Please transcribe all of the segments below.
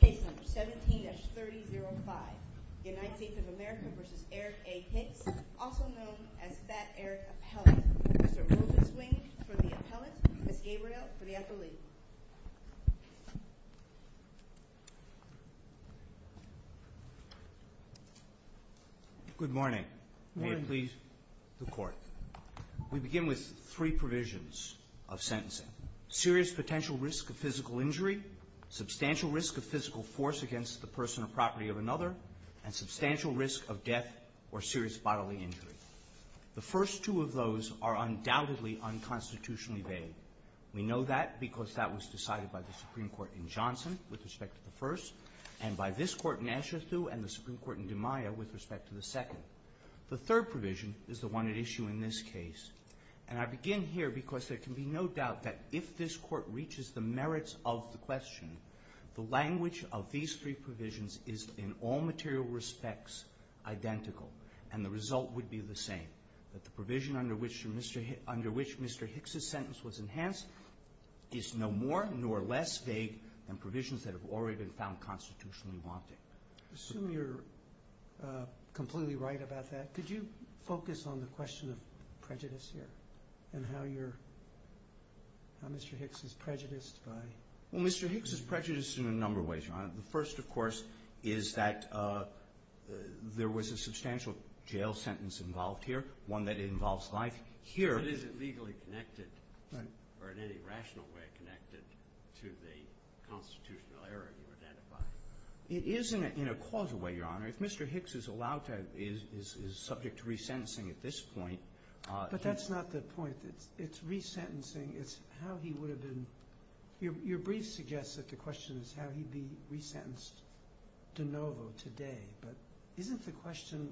Case number 17-3005, United States of America v. Eric A. Hicks, also known as Fat Eric Appellate, Mr. Moses Wing for the appellate, Ms. Gabriel for the affiliate. Good morning. May it please the court. We begin with three provisions of sentencing, serious potential risk of physical injury, substantial risk of physical force against the person or property of another, and substantial risk of death or serious bodily injury. The first two of those are undoubtedly unconstitutionally vague. We know that because that was decided by the Supreme Court in Johnson with respect to the first, and by this Court in Asherthoo and the Supreme Court in DiMaia with respect to the second. The third provision is the one at issue in this case. And I begin here because there can be no doubt that if this Court reaches the merits of the question, the language of these three provisions is in all material respects identical. And the result would be the same, that the provision under which Mr. Hicks' sentence was enhanced is no more nor less vague than provisions that have already been found constitutionally wanting. I assume you're completely right about that. Could you focus on the question of prejudice here and how you're, how Mr. Hicks is prejudiced by? Well, Mr. Hicks is prejudiced in a number of ways, Your Honor. The first, of course, is that there was a substantial jail sentence involved here, one that involves life. But is it legally connected or in any rational way connected to the constitutional error you identified? It is in a causal way, Your Honor. If Mr. Hicks is allowed to, is subject to resentencing at this point. But that's not the point. It's resentencing. It's how he would have been. Your brief suggests that the question is how he'd be resentenced de novo today. But isn't the question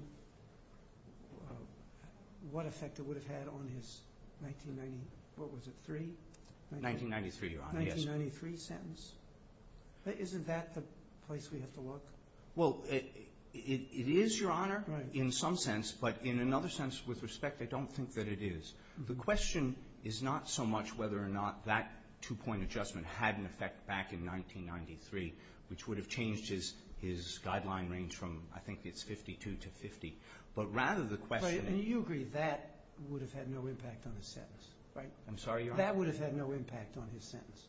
what effect it would have had on his 1990, what was it, three? 1993, Your Honor, yes. 1993 sentence? Isn't that the place we have to look? Well, it is, Your Honor, in some sense. But in another sense, with respect, I don't think that it is. The question is not so much whether or not that two-point adjustment had an effect back in 1993, which would have changed his guideline range from, I think it's 52 to 50. But rather the question is... And you agree that would have had no impact on his sentence, right? I'm sorry, Your Honor. That would have had no impact on his sentence.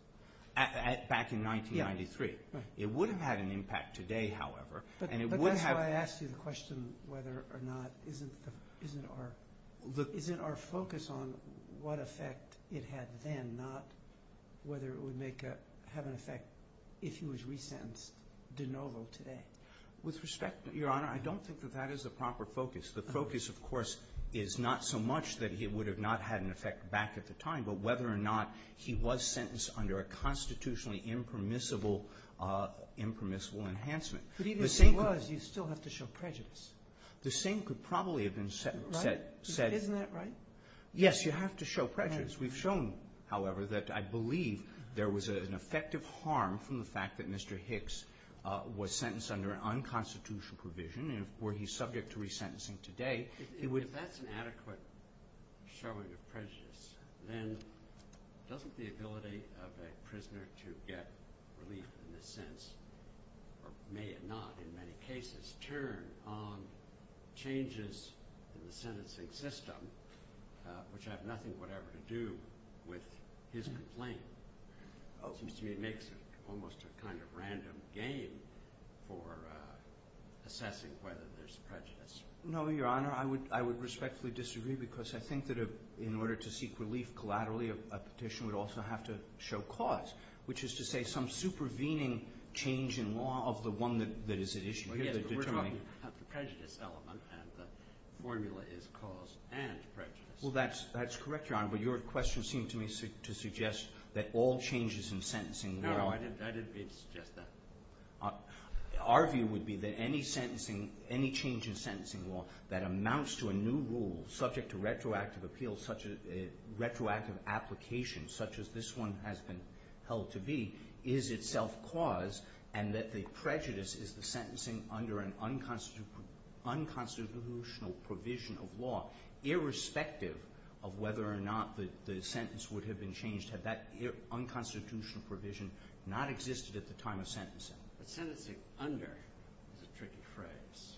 Back in 1993. Yeah, right. It would have had an impact today, however, and it would have... Isn't our focus on what effect it had then, not whether it would have an effect if he was resentenced de novo today? With respect, Your Honor, I don't think that that is the proper focus. The focus, of course, is not so much that he would have not had an effect back at the time, but whether or not he was sentenced under a constitutionally impermissible enhancement. But even if he was, you still have to show prejudice. The same could probably have been said... Isn't that right? Yes, you have to show prejudice. We've shown, however, that I believe there was an effective harm from the fact that Mr. Hicks was sentenced under an unconstitutional provision where he's subject to resentencing today. If that's an adequate showing of prejudice, then doesn't the ability of a prisoner to get relief in this sense, or may it not in many cases, turn on changes in the sentencing system, which have nothing whatever to do with his complaint? It seems to me it makes almost a kind of random game for assessing whether there's prejudice. No, Your Honor, I would respectfully disagree, because I think that in order to seek relief collaterally, a petition would also have to show cause, which is to say some supervening change in law of the one that is at issue. Yes, but we're talking about the prejudice element, and the formula is cause and prejudice. Well, that's correct, Your Honor, but your question seemed to me to suggest that all changes in sentencing... No, I didn't mean to suggest that. Our view would be that any change in sentencing law that amounts to a new rule subject to retroactive application, such as this one has been held to be, is itself cause, and that the prejudice is the sentencing under an unconstitutional provision of law, But sentencing under is a tricky phrase,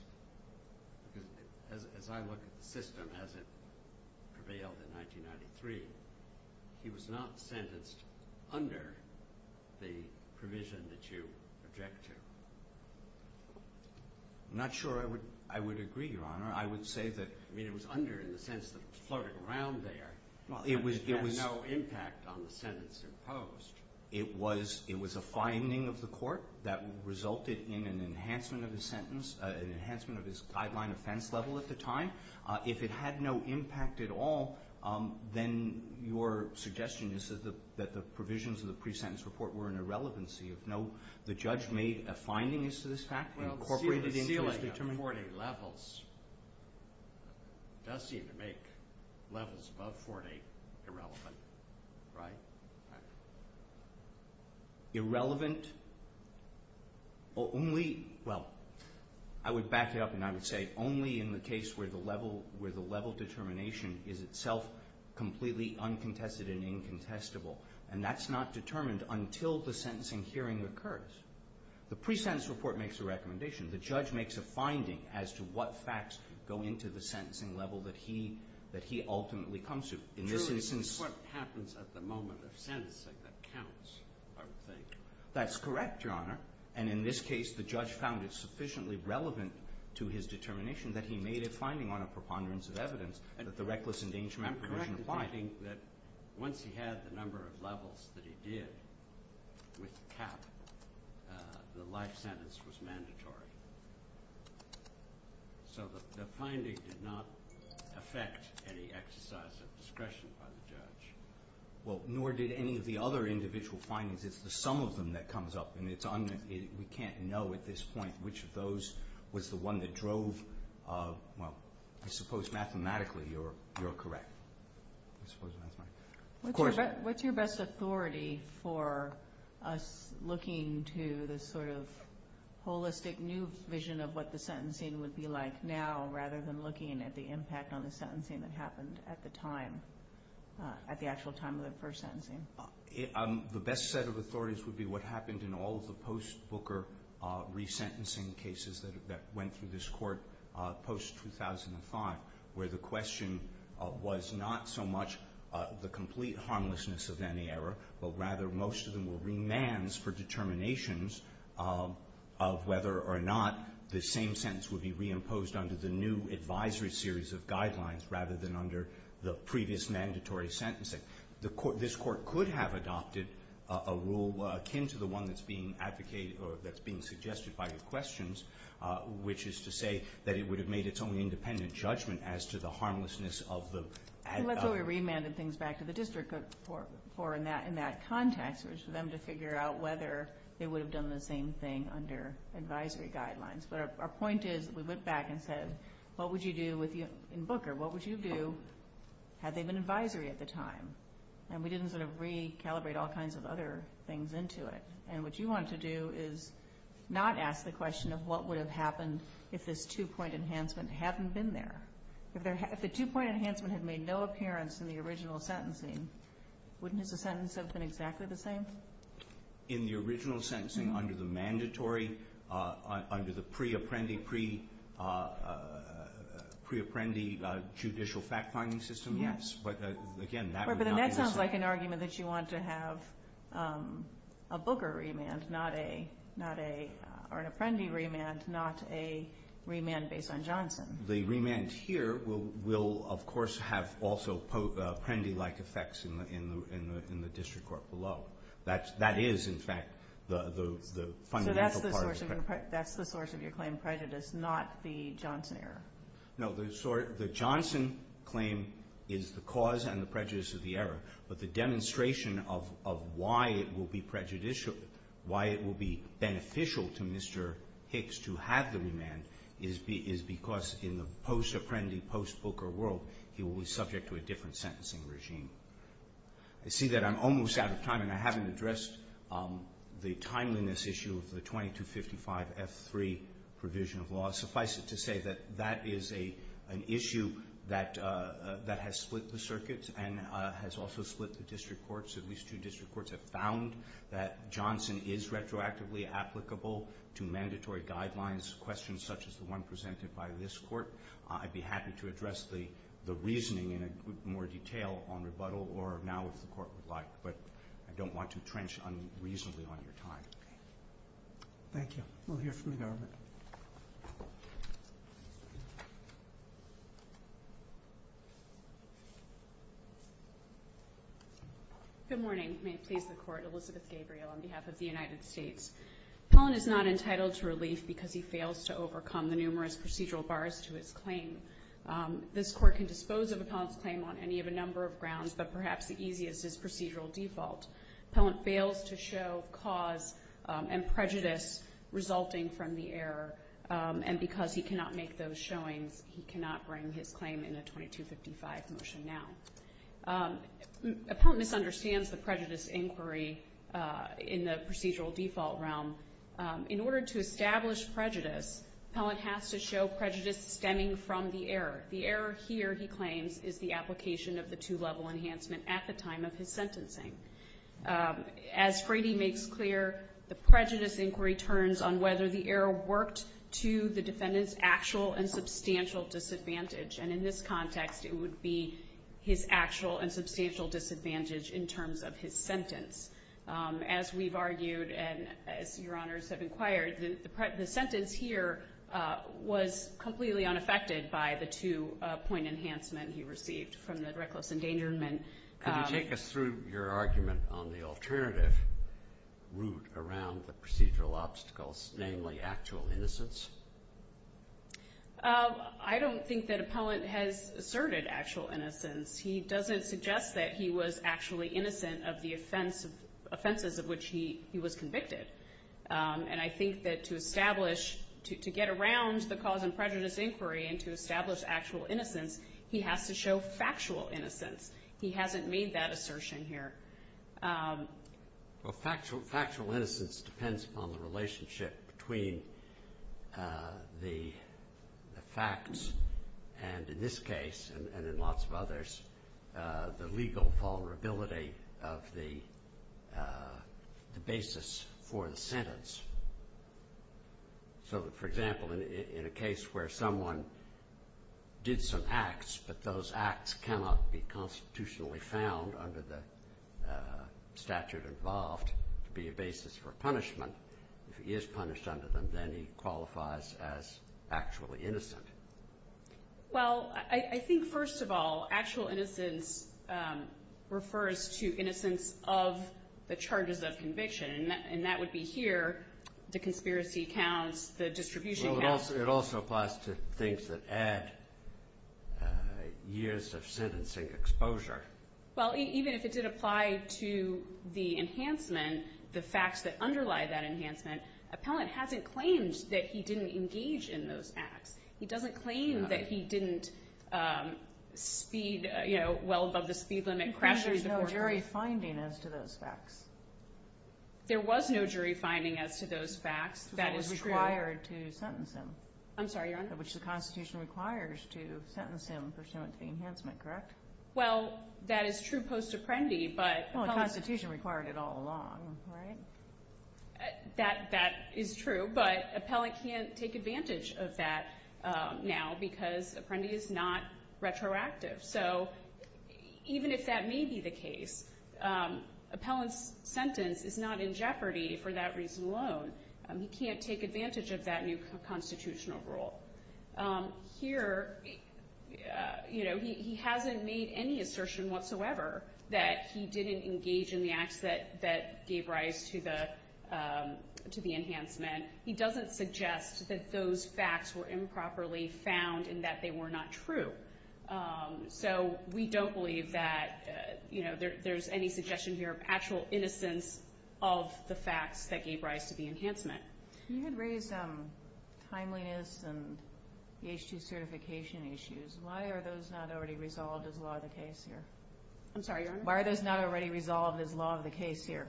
because as I look at the system as it prevailed in 1993, he was not sentenced under the provision that you object to. I'm not sure I would agree, Your Honor. I would say that... I mean, it was under in the sense that it was floating around there. Well, it was... It had no impact on the sentence imposed. It was a finding of the court that resulted in an enhancement of his sentence, an enhancement of his guideline offense level at the time. If it had no impact at all, then your suggestion is that the provisions of the pre-sentence report were an irrelevancy of no... The judge made a finding as to this fact and incorporated into his determination... Well, the ceiling at 40 levels does seem to make levels above 40 irrelevant. Right? Irrelevant only... Well, I would back it up and I would say only in the case where the level determination is itself completely uncontested and incontestable. And that's not determined until the sentencing hearing occurs. The pre-sentence report makes a recommendation. The judge makes a finding as to what facts go into the sentencing level that he ultimately comes to. In this instance... Truly, it's what happens at the moment of sentencing that counts, I would think. That's correct, Your Honor. And in this case, the judge found it sufficiently relevant to his determination that he made a finding on a preponderance of evidence that the reckless endangerment provision applied. Once he had the number of levels that he did with CAP, the life sentence was mandatory. So the finding did not affect any exercise of discretion by the judge. Well, nor did any of the other individual findings. It's the sum of them that comes up and we can't know at this point which of those was the one that drove... Well, I suppose mathematically you're correct. I suppose mathematically. What's your best authority for us looking to this sort of holistic new vision of what the sentencing would be like now rather than looking at the impact on the sentencing that happened at the time, at the actual time of the first sentencing? The best set of authorities would be what happened in all of the post-Booker resentencing cases that went through this court post-2005, where the question was not so much the complete harmlessness of any error, but rather most of them were remands for determinations of whether or not the same sentence would be reimposed under the new advisory series of guidelines rather than under the previous mandatory sentencing. This court could have adopted a rule akin to the one that's being advocated or that's being suggested by your questions, which is to say that it would have made its own independent judgment as to the harmlessness of the... I think that's why we remanded things back to the district court for in that context, was for them to figure out whether they would have done the same thing under advisory guidelines. But our point is we went back and said, what would you do in Booker? What would you do had they been advisory at the time? And we didn't sort of recalibrate all kinds of other things into it. And what you want to do is not ask the question of what would have happened if this two-point enhancement hadn't been there. If the two-point enhancement had made no appearance in the original sentencing, wouldn't his sentence have been exactly the same? In the original sentencing under the mandatory, under the pre-apprendee, pre-apprendee judicial fact-finding system? Yes. But again, that would not be the same. But then that sounds like an argument that you want to have a Booker remand, not a... or an apprendee remand, not a remand based on Johnson. The remand here will, of course, have also apprendee-like effects in the district court below. That is, in fact, the fundamental part of it. So that's the source of your claim, prejudice, not the Johnson error? No, the Johnson claim is the cause and the prejudice of the error. But the demonstration of why it will be prejudicial, why it will be beneficial to Mr. Hicks to have the remand, is because in the post-apprendee, post-Booker world, he will be subject to a different sentencing regime. I see that I'm almost out of time, and I haven't addressed the timeliness issue of the 2255F3 provision of law. Suffice it to say that that is an issue that has split the circuits and has also split the district courts. At least two district courts have found that Johnson is retroactively applicable to mandatory guidelines, questions such as the one presented by this court. I'd be happy to address the reasoning in more detail on rebuttal or now if the court would like, but I don't want to trench unreasonably on your time. Thank you. We'll hear from the government. Good morning. May it please the Court. Elizabeth Gabriel on behalf of the United States. Appellant is not entitled to relief because he fails to overcome the numerous procedural bars to his claim. This court can dispose of Appellant's claim on any of a number of grounds, but perhaps the easiest is procedural default. Appellant fails to show cause and prejudice resulting from the error, and because he cannot make those showings, he cannot bring his claim in a 2255 motion now. Appellant misunderstands the prejudice inquiry in the procedural default realm. In order to establish prejudice, Appellant has to show prejudice stemming from the error. The error here, he claims, is the application of the two-level enhancement at the time of his sentencing. As Frady makes clear, the prejudice inquiry turns on whether the error worked to the defendant's actual and substantial disadvantage, and in this context, it would be his actual and substantial disadvantage in terms of his sentence. As we've argued and as your honors have inquired, the sentence here was completely unaffected by the two-point enhancement he received from the reckless endangerment. Could you take us through your argument on the alternative route around the procedural obstacles, namely actual innocence? I don't think that Appellant has asserted actual innocence. He doesn't suggest that he was actually innocent of the offenses of which he was convicted, and I think that to establish, to get around the cause and prejudice inquiry and to establish actual innocence, he has to show factual innocence. He hasn't made that assertion here. Well, factual innocence depends upon the relationship between the facts and, in this case and in lots of others, the legal vulnerability of the basis for the sentence. So, for example, in a case where someone did some acts, but those acts cannot be constitutionally found under the statute involved to be a basis for punishment, if he is punished under them, then he qualifies as actually innocent. Well, I think, first of all, actual innocence refers to innocence of the charges of conviction, and that would be here, the conspiracy counts, the distribution counts. Well, it also applies to things that add years of sentencing exposure. Well, even if it did apply to the enhancement, the facts that underlie that enhancement, Appellant hasn't claimed that he didn't engage in those acts. He doesn't claim that he didn't speed well above the speed limit. There's no jury finding as to those facts. There was no jury finding as to those facts. That is true. It was required to sentence him. I'm sorry, Your Honor? Which the Constitution requires to sentence him pursuant to the enhancement, correct? Well, that is true post-Apprendi. Well, the Constitution required it all along, right? That is true, but Appellant can't take advantage of that now because Apprendi is not retroactive. So even if that may be the case, Appellant's sentence is not in jeopardy for that reason alone. He can't take advantage of that new constitutional rule. Here, you know, he hasn't made any assertion whatsoever that he didn't engage in the acts that gave rise to the enhancement. He doesn't suggest that those facts were improperly found and that they were not true. So we don't believe that, you know, there's any suggestion here of actual innocence of the facts that gave rise to the enhancement. You had raised timeliness and the H-2 certification issues. Why are those not already resolved as law of the case here? I'm sorry, Your Honor? Why are those not already resolved as law of the case here?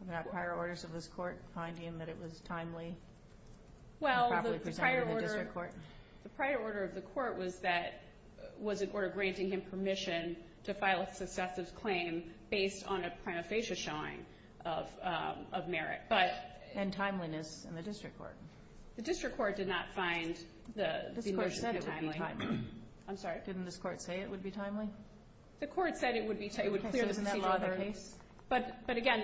Were there not prior orders of this Court finding that it was timely and properly presented to the district court? Well, the prior order of the Court was that it was a court granting him permission to file a successive claim based on a prima facie showing of merit. And timeliness in the district court? The district court did not find that it would be timely. This Court said it would be timely. I'm sorry? Didn't this Court say it would be timely? The Court said it would be timely. So isn't that law of the case? But, again,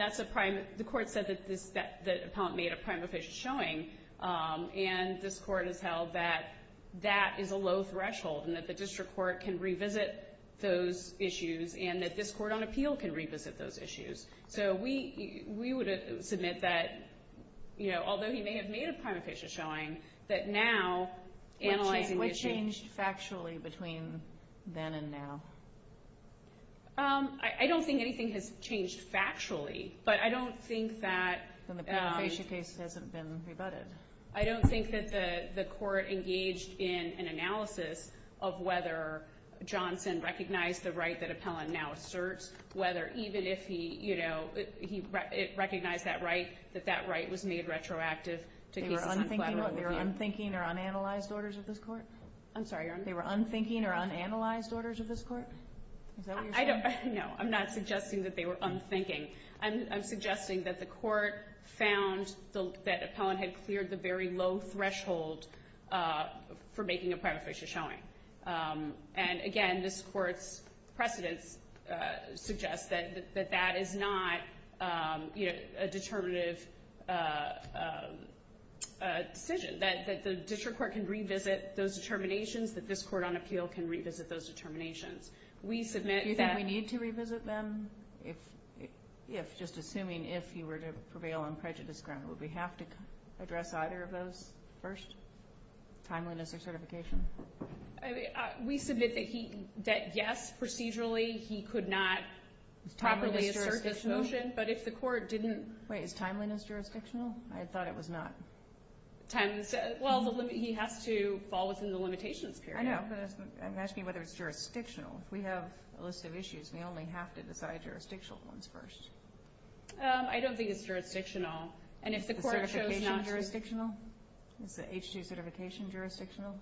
the Court said that the appellant made a prima facie showing, and this Court has held that that is a low threshold and that the district court can revisit those issues and that this Court on appeal can revisit those issues. So we would submit that, you know, although he may have made a prima facie showing, that now analyzing the issue… What changed factually between then and now? I don't think anything has changed factually, but I don't think that… Then the prima facie case hasn't been rebutted. I don't think that the Court engaged in an analysis of whether Johnson recognized the right that appellant now asserts, whether even if he, you know, he recognized that right, that that right was made retroactive to cases… They were unthinking or unanalyzed orders of this Court? I'm sorry. They were unthinking or unanalyzed orders of this Court? Is that what you're saying? No, I'm not suggesting that they were unthinking. I'm suggesting that the Court found that appellant had cleared the very low threshold for making a prima facie showing. And, again, this Court's precedence suggests that that is not, you know, a determinative decision, that the district court can revisit those determinations, that this Court on appeal can revisit those determinations. We submit that… Do you think we need to revisit them? If, just assuming if you were to prevail on prejudice ground, would we have to address either of those first? Timeliness or certification? We submit that yes, procedurally, he could not properly assert this motion, but if the Court didn't… Wait, is timeliness jurisdictional? I thought it was not. Timeliness, well, he has to fall within the limitations period. I know, but I'm asking whether it's jurisdictional. If we have a list of issues, we only have to decide jurisdictional ones first. I don't think it's jurisdictional. Is the certification jurisdictional? Is the H-2 certification jurisdictional?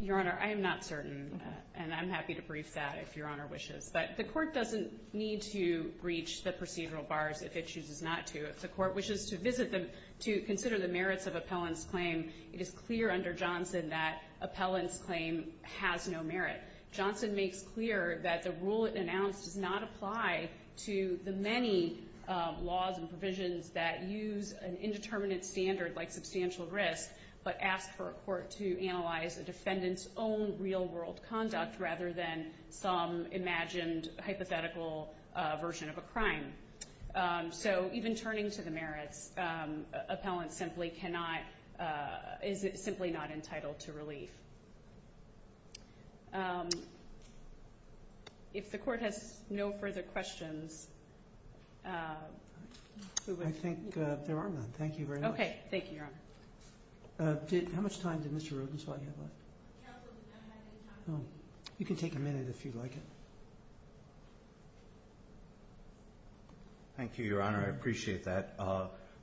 Your Honor, I am not certain, and I'm happy to brief that if Your Honor wishes. But the Court doesn't need to reach the procedural bars if it chooses not to. If the Court wishes to visit them to consider the merits of appellant's claim, it is clear under Johnson that appellant's claim has no merit. Johnson makes clear that the rule it announced does not apply to the many laws and provisions that use an indeterminate standard like substantial risk, but ask for a court to analyze a defendant's own real-world conduct rather than some imagined hypothetical version of a crime. So even turning to the merits, appellant is simply not entitled to relief. If the Court has no further questions. I think there are none. Thank you very much. Okay. Thank you, Your Honor. How much time did Mr. Rubenstein have left? You can take a minute if you'd like. Thank you, Your Honor. I appreciate that.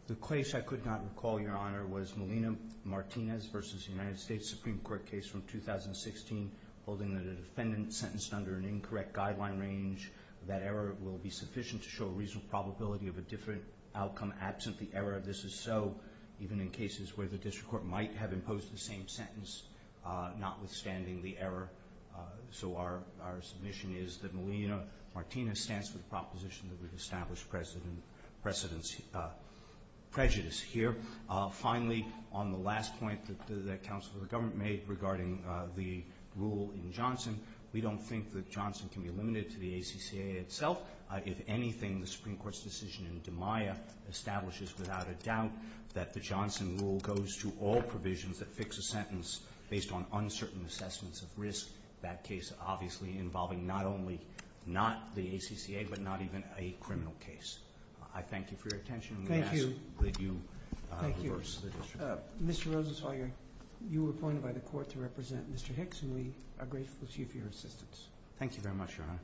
The case I could not recall, Your Honor, was Molina-Martinez v. United States Supreme Court case from 2016, holding that a defendant sentenced under an incorrect guideline range, that error will be sufficient to show a reasonable probability of a different outcome absent the error of this is so, even in cases where the district court might have imposed the same sentence, notwithstanding the error. So our submission is that Molina-Martinez stands for the proposition that we've established precedence prejudice here. Finally, on the last point that the counsel of the government made regarding the rule in Johnson, we don't think that Johnson can be limited to the ACCA itself. If anything, the Supreme Court's decision in DiMaia establishes without a doubt that the Johnson rule goes to all provisions that fix a sentence based on uncertain assessments of risk, that case obviously involving not only not the ACCA but not even a criminal case. I thank you for your attention. Thank you. And we ask that you reverse the decision. Thank you. Mr. Rosenzweiger, you were appointed by the court to represent Mr. Hicks and we are grateful to you for your assistance. Thank you very much, Your Honor.